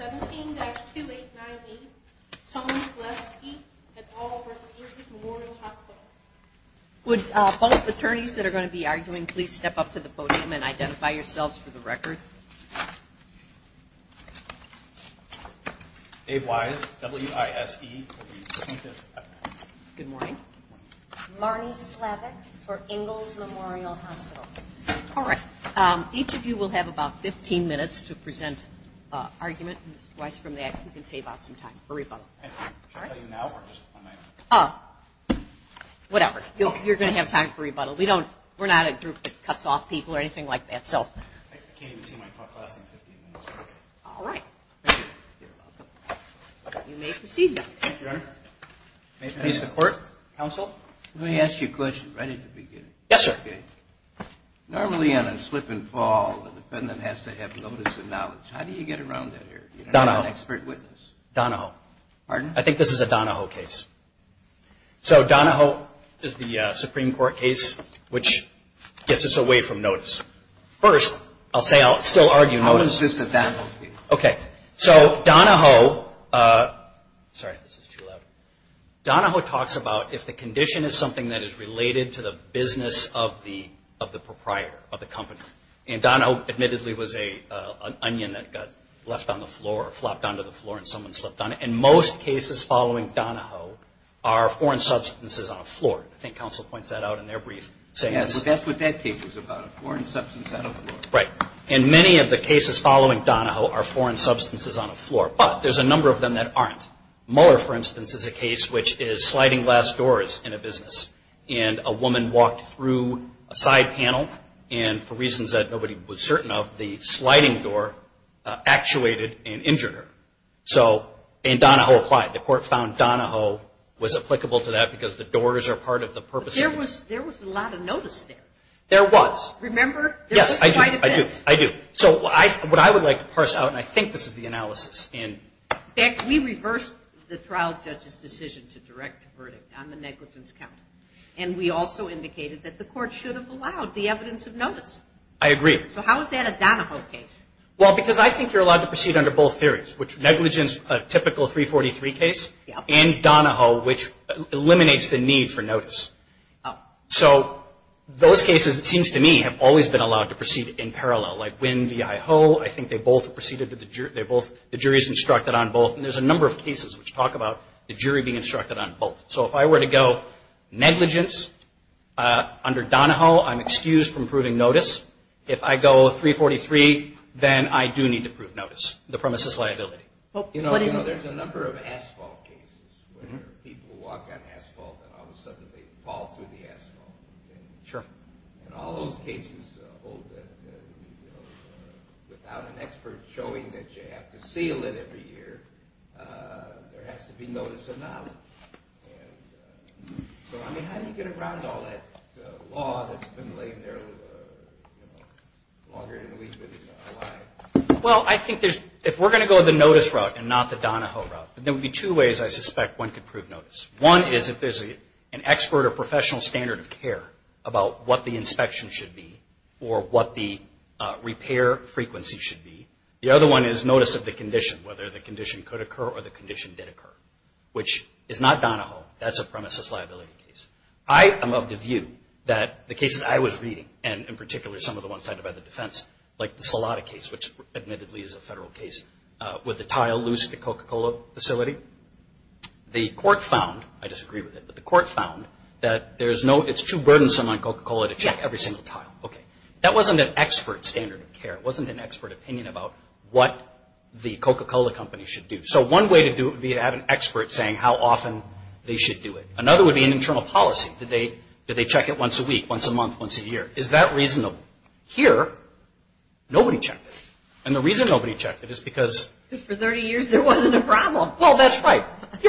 17-289B, Tony Vlesky, et al. receives Memorial Hospital. Would both attorneys that are going to be arguing please step up to the podium and identify yourselves for the record. Dave Wise, W-I-S-E. Good morning. Marnie Slavik for Ingalls Memorial Hospital. All right. Each of you will have about 15 minutes to present an argument. Mr. Wise, from that, you can save out some time for rebuttal. Should I tell you now or just on my own? Whatever. You're going to have time for rebuttal. We're not a group that cuts off people or anything like that. I can't even see my clock lasting 15 minutes. All right. Thank you. You're welcome. You may proceed now. Thank you, Your Honor. May it please the Court? Counsel? Let me ask you a question right at the beginning. Yes, sir. Okay. Normally, on a slip and fall, the defendant has to have notice and knowledge. How do you get around that here? You don't have an expert witness. Donahoe. Pardon? I think this is a Donahoe case. So Donahoe is the Supreme Court case, which gets us away from notice. First, I'll say I'll still argue notice. How is this a Donahoe case? Okay. So Donahoe – sorry, this is too loud. Donahoe talks about if the condition is something that is related to the business of the proprietor, of the company. And Donahoe, admittedly, was an onion that got left on the floor, flopped onto the floor, and someone slipped on it. And most cases following Donahoe are foreign substances on a floor. I think counsel points that out in their brief. Yes, but that's what that case was about, a foreign substance on a floor. Right. And many of the cases following Donahoe are foreign substances on a floor. But there's a number of them that aren't. Mueller, for instance, is a case which is sliding glass doors in a business. And a woman walked through a side panel and, for reasons that nobody was certain of, the sliding door actuated and injured her. So – and Donahoe applied. The court found Donahoe was applicable to that because the doors are part of the purpose. But there was a lot of notice there. There was. Remember? Yes, I do. There was quite a bit. I do. So what I would like to parse out, and I think this is the analysis. Beck, we reversed the trial judge's decision to direct a verdict on the negligence count. And we also indicated that the court should have allowed the evidence of notice. I agree. So how is that a Donahoe case? Well, because I think you're allowed to proceed under both theories, which negligence, a typical 343 case, and Donahoe, which eliminates the need for notice. So those cases, it seems to me, have always been allowed to proceed in parallel. Like Winn v. Iho, I think they both proceeded to the jury. The jury is instructed on both. And there's a number of cases which talk about the jury being instructed on both. So if I were to go negligence under Donahoe, I'm excused from proving notice. If I go 343, then I do need to prove notice, the premises liability. You know, there's a number of asphalt cases where people walk on asphalt and all of a sudden they fall through the asphalt. Sure. And all those cases hold that, you know, without an expert showing that you have to seal it every year, there has to be notice of knowledge. And so, I mean, how do you get around all that law that's been laying there, you know, longer than we've been in Hawaii? Well, I think there's – if we're going to go the notice route and not the Donahoe route, there would be two ways I suspect one could prove notice. One is if there's an expert or professional standard of care about what the inspection should be or what the repair frequency should be. The other one is notice of the condition, whether the condition could occur or the condition did occur, which is not Donahoe. That's a premises liability case. I am of the view that the cases I was reading, and in particular some of the ones cited by the defense, like the Salada case, which admittedly is a federal case with the tile loose at the Coca-Cola facility, the court found – I disagree with it – but the court found that there's no – it's too burdensome on Coca-Cola to check every single tile. Okay. That wasn't an expert standard of care. It wasn't an expert opinion about what the Coca-Cola company should do. So one way to do it would be to have an expert saying how often they should do it. Another would be an internal policy. Did they check it once a week, once a month, once a year? Is that reasonable? Here, nobody checked it. And the reason nobody checked it is because – That's right. That's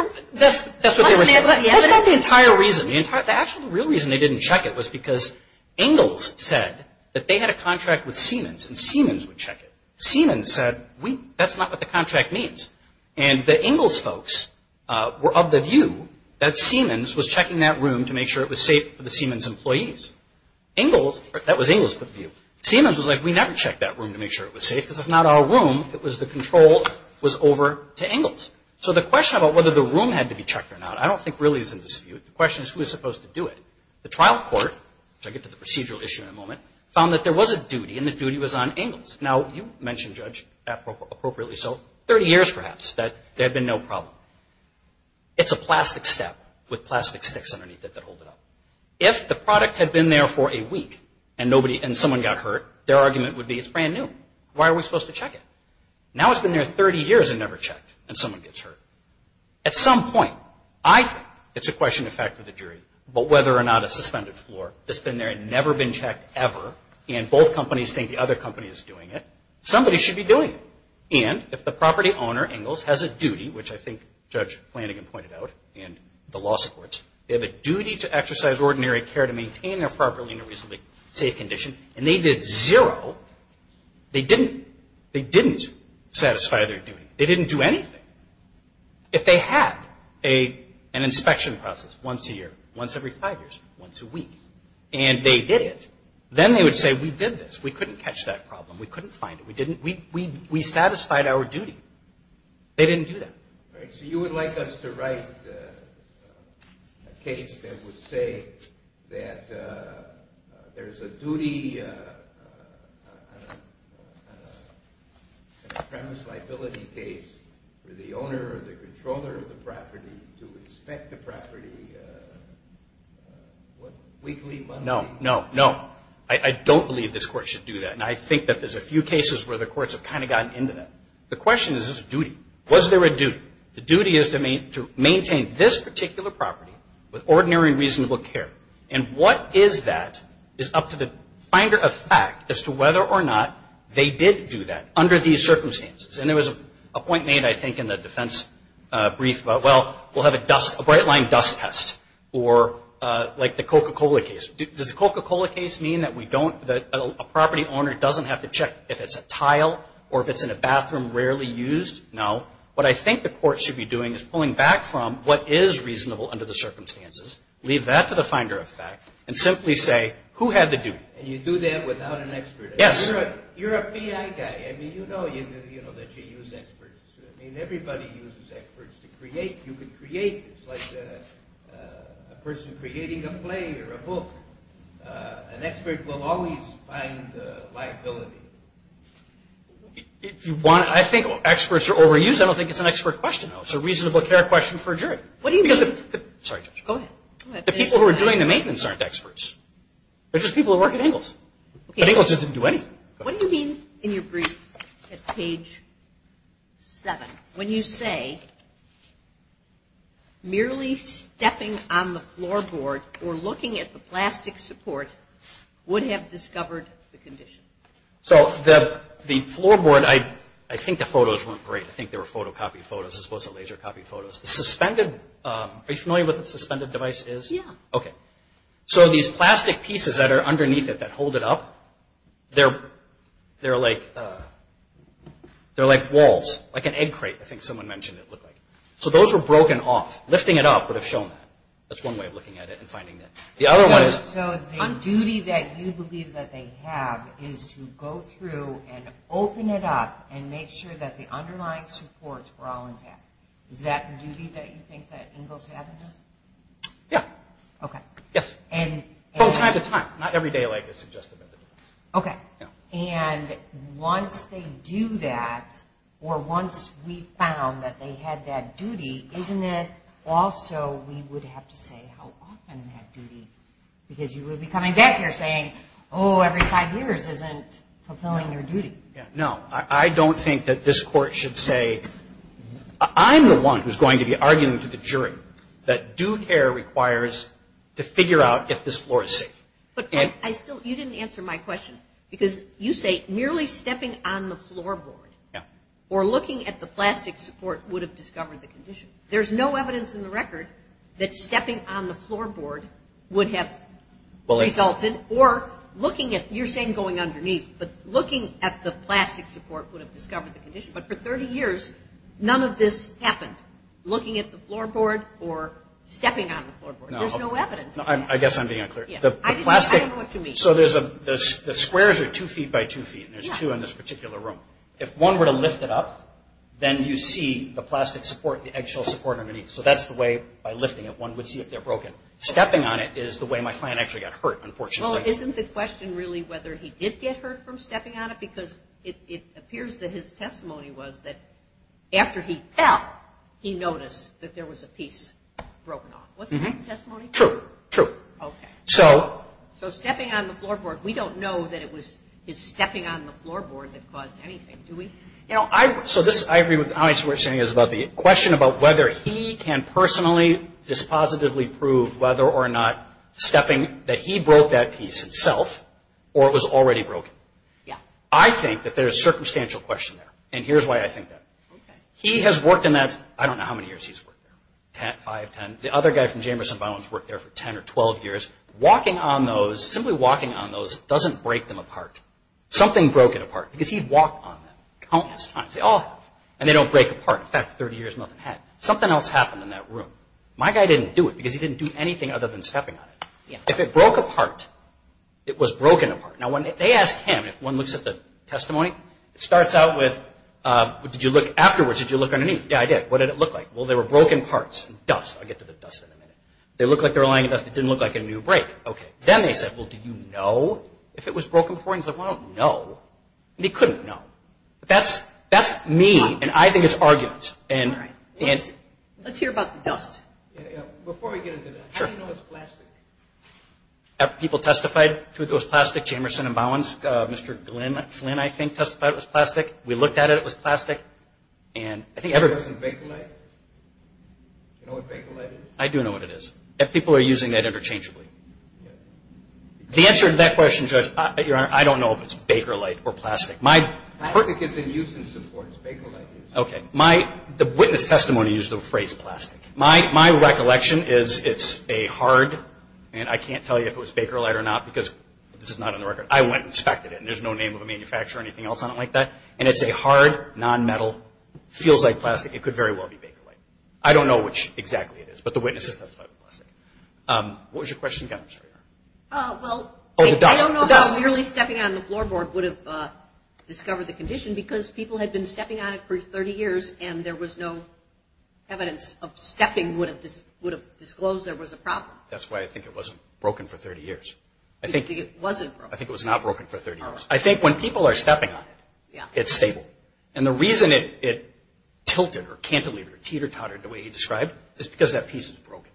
what they were saying. That's not the entire reason. The actual real reason they didn't check it was because Engels said that they had a contract with Siemens, and Siemens would check it. Siemens said, that's not what the contract means. And the Engels folks were of the view that Siemens was checking that room to make sure it was safe for the Siemens employees. Engels – that was Engels' view. Siemens was like, we never checked that room to make sure it was safe because it's not our room. It was the control was over to Engels. So the question about whether the room had to be checked or not I don't think really is in dispute. The question is who is supposed to do it. The trial court, which I'll get to the procedural issue in a moment, found that there was a duty, and the duty was on Engels. Now, you mentioned, Judge, appropriately so, 30 years perhaps that there had been no problem. It's a plastic step with plastic sticks underneath it that hold it up. If the product had been there for a week and someone got hurt, their argument would be it's brand new. Why are we supposed to check it? Now it's been there 30 years and never checked, and someone gets hurt. At some point, I think it's a question of fact for the jury, but whether or not a suspended floor that's been there and never been checked ever, and both companies think the other company is doing it, somebody should be doing it. And if the property owner, Engels, has a duty, which I think Judge Flanagan pointed out, and the law supports, they have a duty to exercise ordinary care to maintain their property in a reasonably safe condition, and they did zero, they didn't satisfy their duty. They didn't do anything. If they had an inspection process once a year, once every five years, once a week, and they did it, then they would say we did this. We couldn't catch that problem. We couldn't find it. We satisfied our duty. They didn't do that. All right, so you would like us to write a case that would say that there's a duty on a premise liability case for the owner or the controller of the property to inspect the property weekly, monthly? No, no, no. I don't believe this court should do that, and I think that there's a few cases where the courts have kind of gotten into that. The question is, is this a duty? Was there a duty? The duty is to maintain this particular property with ordinary and reasonable care, and what is that is up to the finder of fact as to whether or not they did do that under these circumstances, and there was a point made, I think, in the defense brief about, well, we'll have a bright-line dust test, or like the Coca-Cola case. Does the Coca-Cola case mean that a property owner doesn't have to check if it's a tile or if it's in a bathroom rarely used? No. What I think the court should be doing is pulling back from what is reasonable under the circumstances, leave that to the finder of fact, and simply say, who had the duty? And you do that without an expert. Yes. You're a PI guy. I mean, you know that you use experts. I mean, everybody uses experts to create. You could create this, like a person creating a play or a book. An expert will always find liability. If you want, I think experts are overused. I don't think it's an expert question, though. It's a reasonable care question for a jury. What do you mean? Sorry, Judge. Go ahead. The people who are doing the maintenance aren't experts. They're just people who work at Ingalls. But Ingalls didn't do anything. What do you mean in your brief at page 7 when you say, merely stepping on the floorboard or looking at the plastic support would have discovered the condition? So the floorboard, I think the photos weren't great. I think they were photocopied photos as opposed to laser copied photos. The suspended, are you familiar with what a suspended device is? Yeah. Okay. So these plastic pieces that are underneath it that hold it up, they're like walls, like an egg crate. I think someone mentioned it looked like. So those were broken off. Lifting it up would have shown that. That's one way of looking at it and finding that. The other one is. So the duty that you believe that they have is to go through and open it up and make sure that the underlying supports were all intact. Is that the duty that you think that Ingalls had in this? Yeah. Okay. Yes. And. From time to time. Not every day like this. Okay. Yeah. And once they do that or once we found that they had that duty, isn't it also we would have to say how often that duty. Because you would be coming back here saying, oh, every five years isn't fulfilling your duty. No. I don't think that this court should say. I'm the one who's going to be arguing to the jury that due care requires to figure out if this floor is safe. But I still. You didn't answer my question. Because you say merely stepping on the floor board. Yeah. Or looking at the plastic support would have discovered the condition. There's no evidence in the record that stepping on the floor board would have resulted. Or looking at. You're saying going underneath. But looking at the plastic support would have discovered the condition. But for 30 years, none of this happened. Looking at the floor board or stepping on the floor board. There's no evidence. I guess I'm being unclear. I don't know what you mean. So the squares are two feet by two feet. And there's two in this particular room. If one were to lift it up, then you see the plastic support, the eggshell support underneath. So that's the way by lifting it one would see if they're broken. Stepping on it is the way my client actually got hurt, unfortunately. Well, isn't the question really whether he did get hurt from stepping on it? Because it appears that his testimony was that after he fell, he noticed that there was a piece broken off. Wasn't that the testimony? True. True. Okay. So. So stepping on the floor board. We don't know that it was his stepping on the floor board that caused anything. Do we? You know, I. So this. I agree with how much we're saying is about the question about whether he can personally dispositively prove whether or not stepping that he broke that piece himself or it was already broken. Yeah. I think that there's a circumstantial question there. And here's why I think that. Okay. He has worked in that. I don't know how many years he's worked there. Ten, five, ten. The other guy from Jamerson, Bono, has worked there for 10 or 12 years. Walking on those, simply walking on those doesn't break them apart. Something broke it apart because he'd walk on them countless times. They all have. And they don't break apart. In fact, for 30 years, nothing happened. Something else happened in that room. My guy didn't do it because he didn't do anything other than stepping on it. If it broke apart, it was broken apart. Now, when they asked him, if one looks at the testimony, it starts out with, did you look afterwards? Did you look underneath? Yeah, I did. What did it look like? Well, they were broken parts. Dust. I'll get to the dust in a minute. They looked like they were lying in dust. It didn't look like a new break. Okay. Then they said, well, do you know if it was broken before? He's like, well, I don't know. And he couldn't know. But that's me, and I think it's argument. All right. Let's hear about the dust. Yeah, yeah. Before we get into that, how do you know it's plastic? People testified that it was plastic. Jamerson and Bowens, Mr. Flynn, I think, testified it was plastic. We looked at it. It was plastic. It wasn't Bakelite? Do you know what Bakelite is? I do know what it is. People are using that interchangeably. The answer to that question, Judge, Your Honor, I don't know if it's Bakelite or plastic. Plastic is in use and support. It's Bakelite. Okay. The witness testimony used the phrase plastic. My recollection is it's a hard, and I can't tell you if it was Bakelite or not, because this is not on the record. I went and inspected it, and there's no name of a manufacturer or anything else on it like that. And it's a hard, non-metal, feels like plastic. It could very well be Bakelite. I don't know which exactly it is, but the witnesses testified it was plastic. What was your question again, Ms. Freer? Well, I don't know how merely stepping on the floorboard would have discovered the condition because people had been stepping on it for 30 years, and there was no evidence of stepping would have disclosed there was a problem. That's why I think it wasn't broken for 30 years. You think it wasn't broken? I think it was not broken for 30 years. I think when people are stepping on it, it's stable. And the reason it tilted or cantilevered or teeter-tottered the way you described is because that piece is broken.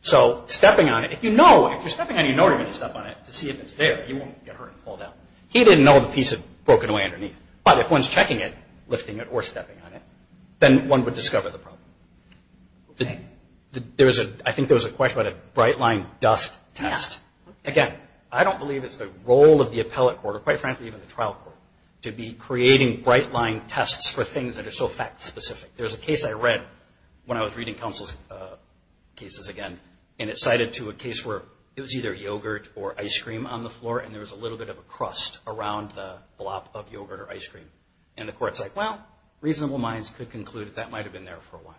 So stepping on it, if you know, if you're stepping on it, you know you're going to step on it to see if it's there. You won't get hurt and fall down. He didn't know the piece had broken away underneath. But if one's checking it, lifting it, or stepping on it, then one would discover the problem. I think there was a question about a bright line dust test. Again, I don't believe it's the role of the appellate court or, quite frankly, even the trial court to be creating bright line tests for things that are so fact-specific. There's a case I read when I was reading counsel's cases again, and it cited to a case where it was either yogurt or ice cream on the floor, and there was a little bit of a crust around the blop of yogurt or ice cream. And the court's like, well, reasonable minds could conclude that that might have been there for a while.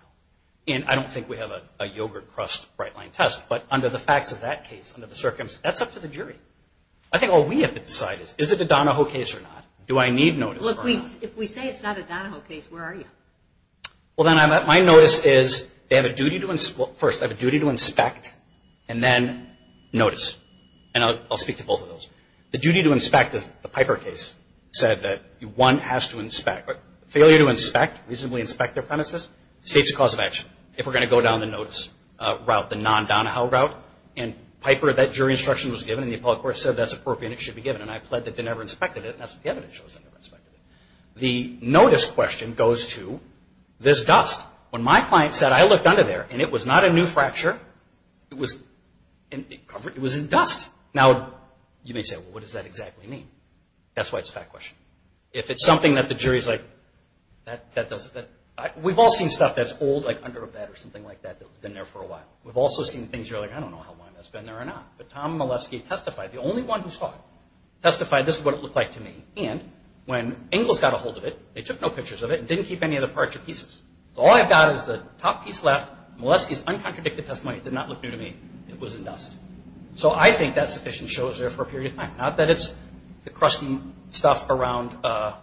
And I don't think we have a yogurt crust bright line test. But under the facts of that case, under the circumstances, that's up to the jury. I think all we have to decide is, is it a Donahoe case or not? Do I need notice or not? Look, if we say it's not a Donahoe case, where are you? Well, then my notice is they have a duty to inspect and then notice. And I'll speak to both of those. The duty to inspect, the Piper case, said that one has to inspect. If we're going to go down the notice route, the non-Donahoe route, and Piper, that jury instruction was given, and the appellate court said that's appropriate and it should be given, and I pled that they never inspected it, and that's what the evidence shows, they never inspected it. The notice question goes to this dust. When my client said, I looked under there, and it was not a new fracture, it was in dust. Now, you may say, well, what does that exactly mean? That's why it's a fact question. If it's something that the jury's like, that doesn't, we've all seen stuff that's old, like under a bed or something like that, that's been there for a while. We've also seen things you're like, I don't know how long that's been there or not. But Tom Molesky testified, the only one who testified, this is what it looked like to me. And when Ingalls got a hold of it, they took no pictures of it and didn't keep any of the parts or pieces. All I've got is the top piece left, Molesky's uncontradicted testimony, it did not look new to me, it was in dust. So I think that sufficient shows there for a period of time. Not that it's the crusty stuff around the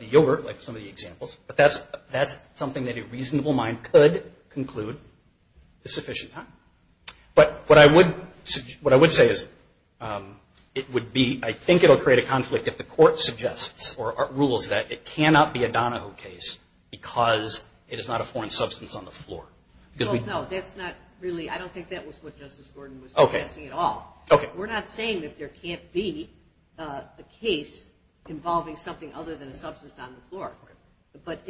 yogurt, like some of the examples, but that's something that a reasonable mind could conclude is sufficient time. But what I would say is it would be, I think it will create a conflict if the court suggests or rules that it cannot be a Donahoe case because it is not a foreign substance on the floor. No, that's not really, I don't think that was what Justice Gordon was suggesting at all. Okay. We're not saying that there can't be a case involving something other than a substance on the floor. But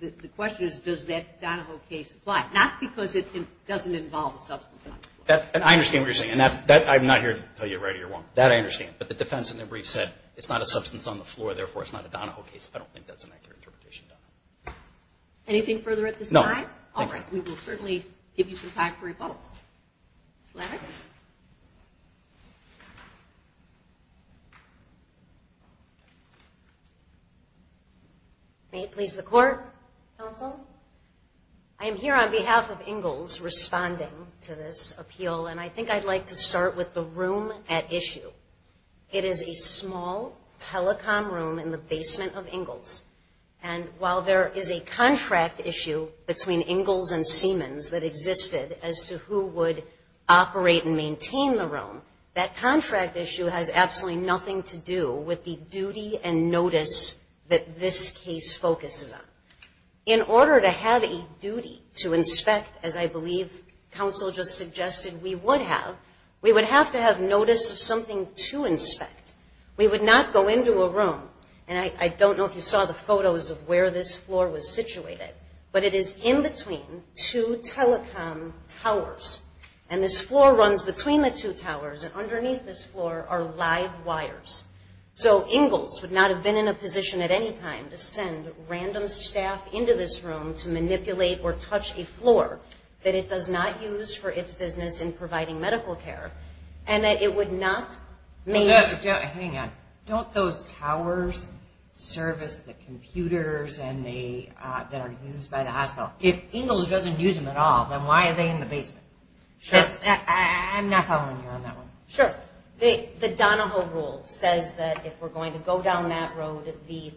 the question is, does that Donahoe case apply? Not because it doesn't involve a substance on the floor. I understand what you're saying, and I'm not here to tell you right or wrong. That I understand. But the defense in their brief said it's not a substance on the floor, therefore it's not a Donahoe case. I don't think that's an accurate interpretation. Anything further at this time? No. All right. We will certainly give you some time for rebuttal. Sladeck? May it please the Court, Counsel? I am here on behalf of Ingalls responding to this appeal, and I think I'd like to start with the room at issue. It is a small telecom room in the basement of Ingalls. And while there is a contract issue between Ingalls and Siemens that existed as to who would operate and maintain the room, that contract issue has absolutely nothing to do with the duty and notice that this case focuses on. In order to have a duty to inspect, as I believe Counsel just suggested we would have, we would have to have notice of something to inspect. We would not go into a room, and I don't know if you saw the photos of where this floor was situated, but it is in between two telecom towers. And this floor runs between the two towers, and underneath this floor are live wires. So Ingalls would not have been in a position at any time to send random staff into this room to manipulate or touch a floor that it does not use for its business in providing medical care, and it would not make... Hang on. Don't those towers service the computers that are used by the hospital? If Ingalls doesn't use them at all, then why are they in the basement? Sure. I'm not following you on that one. Sure. The Donahoe Rule says that if we're going to go down that road, the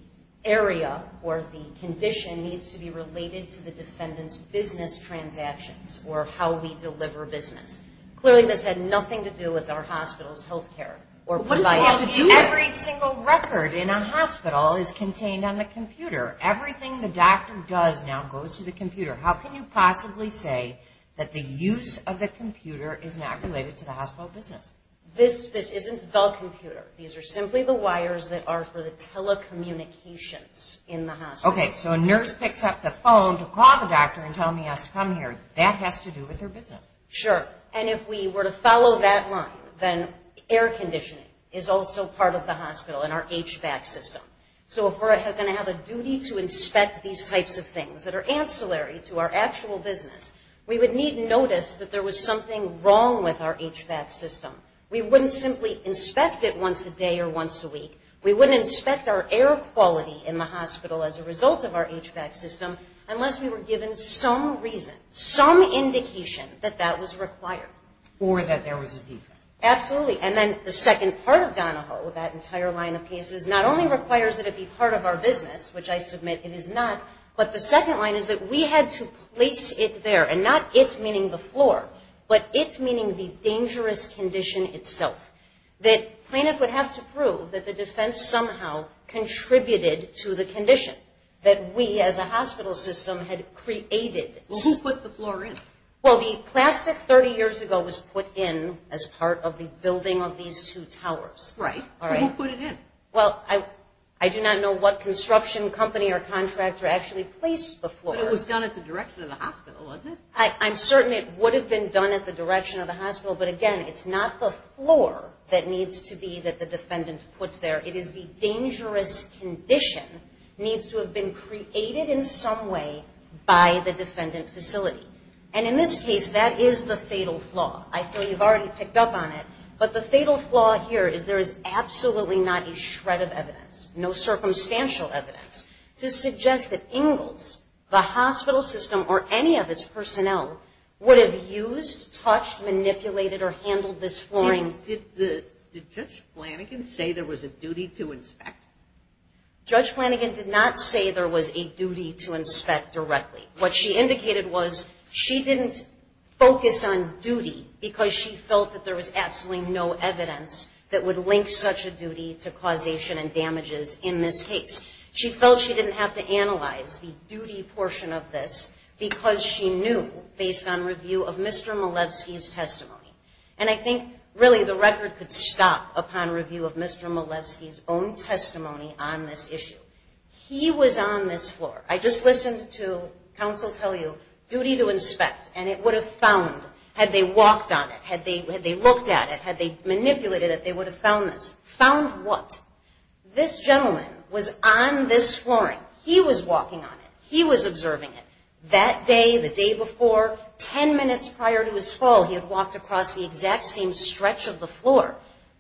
area or the condition needs to be related to the defendant's business transactions or how we deliver business. Clearly this had nothing to do with our hospital's health care. What does it have to do with it? Every single record in a hospital is contained on the computer. Everything the doctor does now goes to the computer. How can you possibly say that the use of the computer is not related to the hospital business? This isn't the computer. These are simply the wires that are for the telecommunications in the hospital. Okay, so a nurse picks up the phone to call the doctor and tell him he has to come here. That has to do with their business. Sure. And if we were to follow that line, then air conditioning is also part of the hospital and our HVAC system. So if we're going to have a duty to inspect these types of things that are ancillary to our actual business, we would need notice that there was something wrong with our HVAC system. We wouldn't simply inspect it once a day or once a week. We wouldn't inspect our air quality in the hospital as a result of our HVAC system unless we were given some reason, some indication that that was required. Or that there was a defect. Absolutely. And then the second part of Donahoe, that entire line of cases, not only requires that it be part of our business, which I submit it is not, but the second line is that we had to place it there, and not it meaning the floor, but it meaning the dangerous condition itself, that plaintiff would have to prove that the defense somehow contributed to the condition, that we as a hospital system had created. Well, who put the floor in? Well, the plastic 30 years ago was put in as part of the building of these two towers. Right. Who put it in? Well, I do not know what construction company or contractor actually placed the floor. But it was done at the direction of the hospital, wasn't it? I'm certain it would have been done at the direction of the hospital, but again, it's not the floor that needs to be that the defendant put there. It is the dangerous condition needs to have been created in some way by the defendant facility. And in this case, that is the fatal flaw. I feel you've already picked up on it, but the fatal flaw here is there is absolutely not a shred of evidence, no circumstantial evidence to suggest that Ingalls, the hospital system, or any of its personnel would have used, touched, manipulated, or handled this flooring. Did Judge Flanagan say there was a duty to inspect? Judge Flanagan did not say there was a duty to inspect directly. What she indicated was she didn't focus on duty because she felt that there was absolutely no evidence that would link such a duty to causation and damages in this case. She felt she didn't have to analyze the duty portion of this because she knew based on review of Mr. Malevsky's testimony. And I think really the record could stop upon review of Mr. Malevsky's own testimony on this issue. He was on this floor. I just listened to counsel tell you, duty to inspect, and it would have found, had they walked on it, had they looked at it, had they manipulated it, they would have found this. Found what? This gentleman was on this flooring. He was walking on it. He was observing it. That day, the day before, ten minutes prior to his fall, he had walked across the exact same stretch of the floor.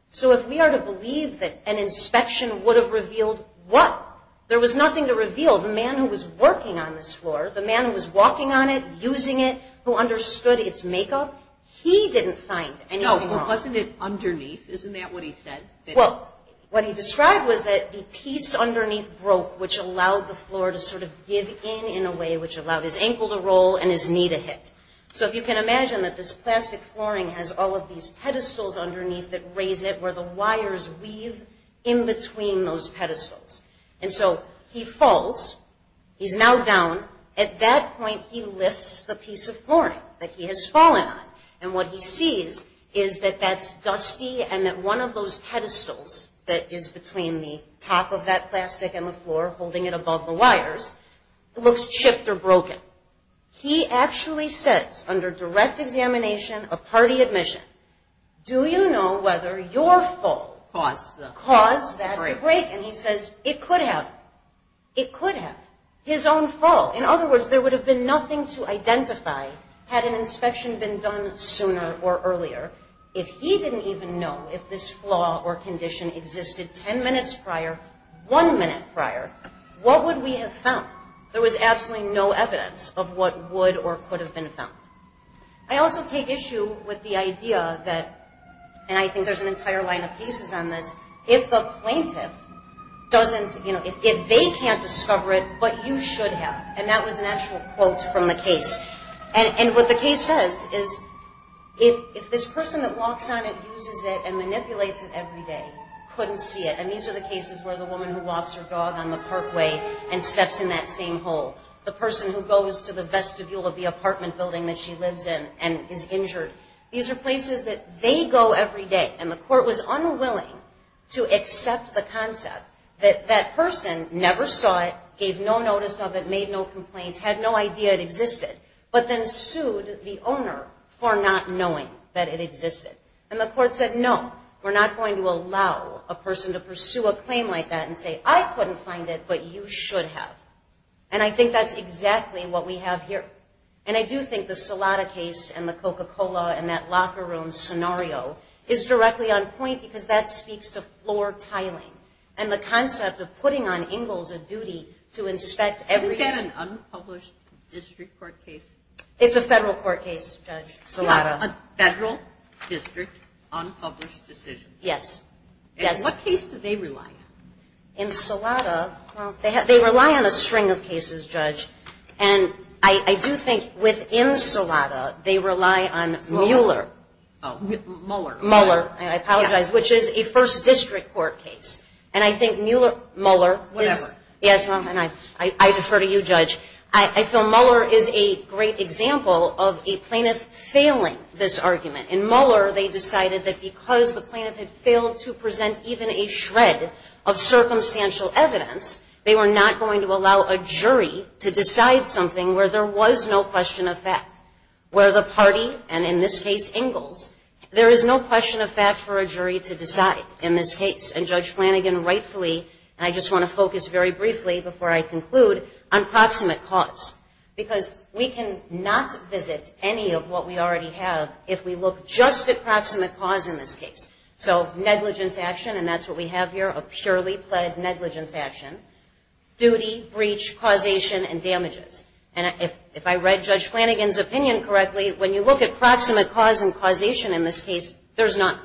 So if we are to believe that an inspection would have revealed what? There was nothing to reveal. The man who was working on this floor, the man who was walking on it, using it, who understood its makeup, he didn't find anything wrong. Wasn't it underneath? Isn't that what he said? Well, what he described was that the piece underneath broke, which allowed the floor to sort of give in in a way which allowed his ankle to roll and his knee to hit. So if you can imagine that this plastic flooring has all of these pedestals underneath that raise it where the wires weave in between those pedestals. And so he falls. He's now down. At that point, he lifts the piece of flooring that he has fallen on. And what he sees is that that's dusty and that one of those pedestals that is between the top of that plastic and the floor holding it above the wires looks chipped or broken. He actually says, under direct examination of party admission, do you know whether your fall caused that break? And he says it could have. It could have. His own fall. In other words, there would have been nothing to identify had an inspection been done sooner or earlier. If he didn't even know if this flaw or condition existed ten minutes prior, one minute prior, what would we have found? There was absolutely no evidence of what would or could have been found. I also take issue with the idea that, and I think there's an entire line of cases on this, if the plaintiff doesn't, you know, if they can't discover it, but you should have. And that was an actual quote from the case. And what the case says is if this person that walks on it, uses it, and manipulates it every day couldn't see it, and these are the cases where the woman who walks her dog on the parkway and steps in that same hole, the person who goes to the vestibule of the apartment building that she lives in and is injured, these are places that they go every day. And the court was unwilling to accept the concept that that person never saw it, gave no notice of it, made no complaints, had no idea it existed, but then sued the owner for not knowing that it existed. And the court said, no, we're not going to allow a person to pursue a claim like that and say, I couldn't find it, but you should have. And I think that's exactly what we have here. And I do think the Salada case and the Coca-Cola and that locker room scenario is directly on point because that speaks to floor tiling and the concept of putting on Ingalls a duty to inspect every... Is that an unpublished district court case? It's a federal court case, Judge Salada. It's a federal district unpublished decision. Yes. And what case do they rely on? In Salada, they rely on a string of cases, Judge. And I do think within Salada, they rely on Mueller. Oh, Mueller. Mueller, I apologize, which is a first district court case. And I think Mueller... Whatever. Yes, and I defer to you, Judge. I feel Mueller is a great example of a plaintiff failing this argument. In Mueller, they decided that because the plaintiff had failed to present even a shred of circumstantial evidence, they were not going to allow a jury to decide something where there was no question of fact, where the party, and in this case, Ingalls, there is no question of fact for a jury to decide in this case. And Judge Flanagan rightfully, and I just want to focus very briefly before I conclude, on proximate cause because we cannot visit any of what we already have if we look just at proximate cause in this case. So negligence action, and that's what we have here, a purely pled negligence action, duty, breach, causation, and damages. And if I read Judge Flanagan's opinion correctly, when you look at proximate cause and causation in this case, there's none.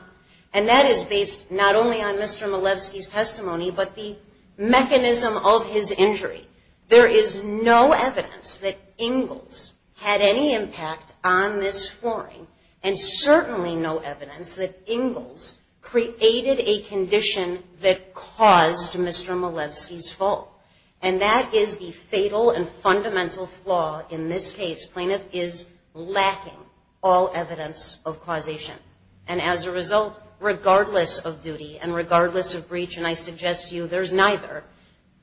And that is based not only on Mr. Malewski's testimony, but the mechanism of his injury. There is no evidence that Ingalls had any impact on this flooring, and certainly no evidence that Ingalls created a condition that caused Mr. Malewski's fall. And that is the fatal and fundamental flaw in this case. Plaintiff is lacking all evidence of causation. And as a result, regardless of duty and regardless of breach, and I suggest to you there's neither,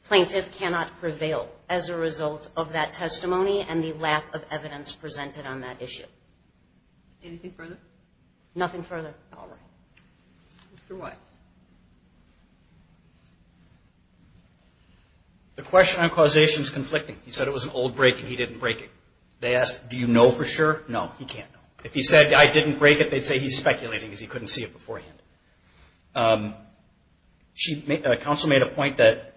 plaintiff cannot prevail as a result of that testimony and the lack of evidence presented on that issue. Anything further? Nothing further. All right. Mr. White. The question on causation is conflicting. He said it was an old break and he didn't break it. They asked, do you know for sure? No, he can't know. If he said, I didn't break it, they'd say he's speculating because he couldn't see it beforehand. Counsel made a point that...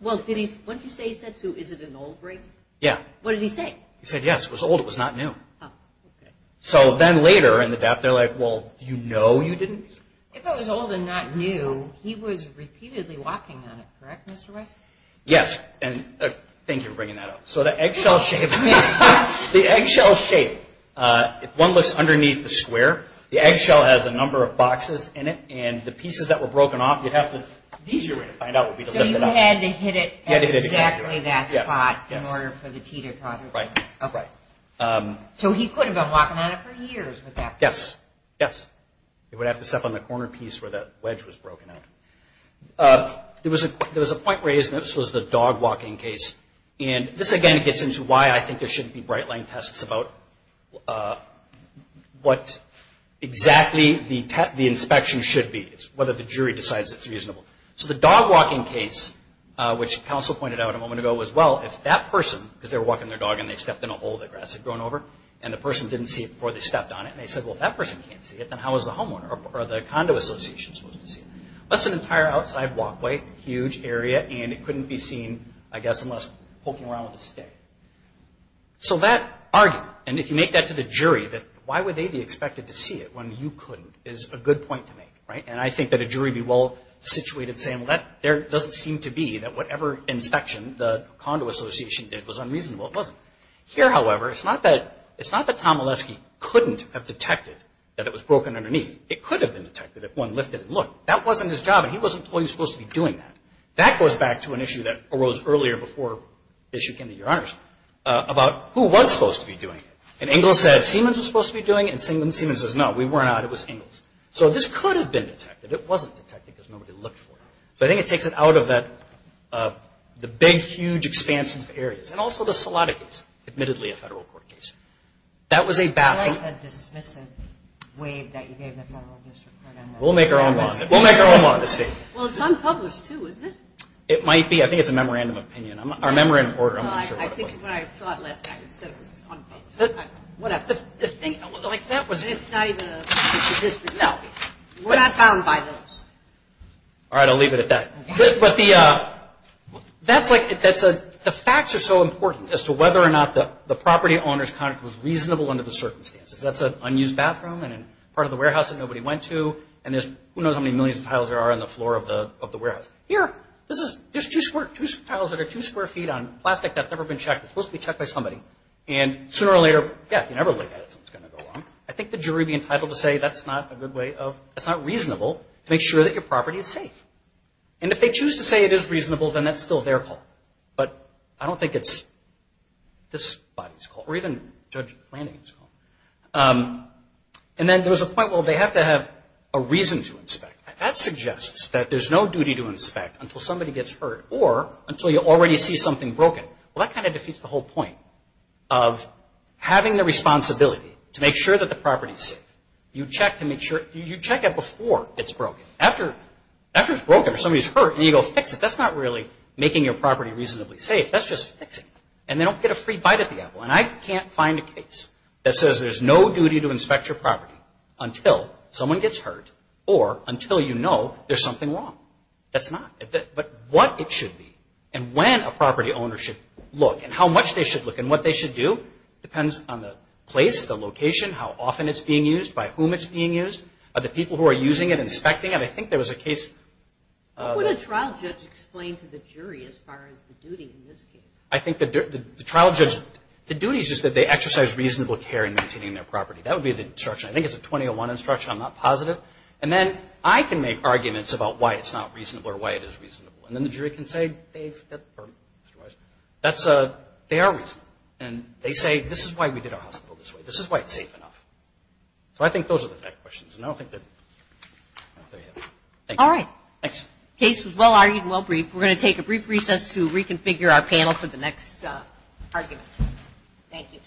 Well, what did he say he said to? Is it an old break? Yeah. What did he say? He said, yes, it was old. It was not new. Oh, okay. So then later in the DAPT, they're like, well, do you know you didn't? If it was old and not new, he was repeatedly walking on it, correct, Mr. West? Yes, and thank you for bringing that up. So the eggshell shape, the eggshell shape, if one looks underneath the square, the eggshell has a number of boxes in it and the pieces that were broken off, you'd have to, the easier way to find out would be to lift it up. So you had to hit it at exactly that spot in order for the teeter-totter to... Right. Okay. So he could have been walking on it for years with that. Yes. Yes. He would have to step on the corner piece where that wedge was broken out. There was a point raised, and this was the dog walking case. And this, again, gets into why I think there shouldn't be bright-line tests about what exactly the inspection should be. It's whether the jury decides it's reasonable. So the dog walking case, which counsel pointed out a moment ago, was, well, if that person, because they were walking their dog and they stepped in a hole, the grass had grown over, and the person didn't see it before they stepped on it, and they said, well, if that person can't see it, then how is the homeowner or the condo association supposed to see it? That's an entire outside walkway, huge area, and it couldn't be seen, I guess, unless poking around with a stick. So that argument, and if you make that to the jury, that why would they be expected to see it when you couldn't, is a good point to make, right? And I think that a jury would be well-situated to say, well, there doesn't seem to be, that whatever inspection the condo association did was unreasonable. It wasn't. Here, however, it's not that Tom Olesky couldn't have detected that it was broken underneath. It could have been detected if one lifted and looked. That wasn't his job, and he wasn't the one who was supposed to be doing that. That goes back to an issue that arose earlier before the issue came to your honors about who was supposed to be doing it. And Ingalls said Siemens was supposed to be doing it, and Siemens says, no, we weren't. It was Ingalls. So this could have been detected. It wasn't detected because nobody looked for it. So I think it takes it out of the big, huge expanses of areas, and also the Salatikas, admittedly a federal court case. That was a baffling. I like the dismissive wave that you gave the federal district court on that. We'll make our own bond. We'll make our own bond. Well, it's unpublished, too, isn't it? It might be. I think it's a memorandum of opinion. Our memorandum of order, I'm not sure what it was. I think when I taught last night, it said it was unpublished. Whatever. The thing, like, that was. It's not even a district. No. We're not bound by those. All right. I'll leave it at that. But the facts are so important as to whether or not the property owner's contract was reasonable under the circumstances. That's an unused bathroom and part of the warehouse that nobody went to, and there's who knows how many millions of tiles there are on the floor of the warehouse. Here, there's two tiles that are two square feet on plastic that's never been checked. It's supposed to be checked by somebody. And sooner or later, yeah, you never look at it, so it's going to go wrong. I think the jury would be entitled to say that's not a good way of, that's not reasonable to make sure that your property is safe. And if they choose to say it is reasonable, then that's still their call. But I don't think it's this body's call or even Judge Flanagan's call. And then there was a point, well, they have to have a reason to inspect. That suggests that there's no duty to inspect until somebody gets hurt or until you already see something broken. Well, that kind of defeats the whole point of having the responsibility to make sure that the property is safe. You check to make sure, you check it before it's broken. After it's broken or somebody's hurt and you go fix it, that's not really making your property reasonably safe. That's just fixing it. And they don't get a free bite at the apple. And I can't find a case that says there's no duty to inspect your property until someone gets hurt or until you know there's something wrong. That's not. But what it should be and when a property owner should look and how much they should look and what they should do depends on the place, the location, how often it's being used, by whom it's being used, the people who are using it, inspecting it. I think there was a case. What would a trial judge explain to the jury as far as the duty in this case? I think the trial judge, the duty is just that they exercise reasonable care in maintaining their property. That would be the instruction. I think it's a 2001 instruction. I'm not positive. And then I can make arguments about why it's not reasonable or why it is reasonable. And then the jury can say they are reasonable. And they say this is why we did our hospital this way. This is why it's safe enough. So I think those are the questions. And I don't think that. Thank you. All right. Thanks. Case was well-argued and well-briefed. We're going to take a brief recess to reconfigure our panel for the next argument. Thank you.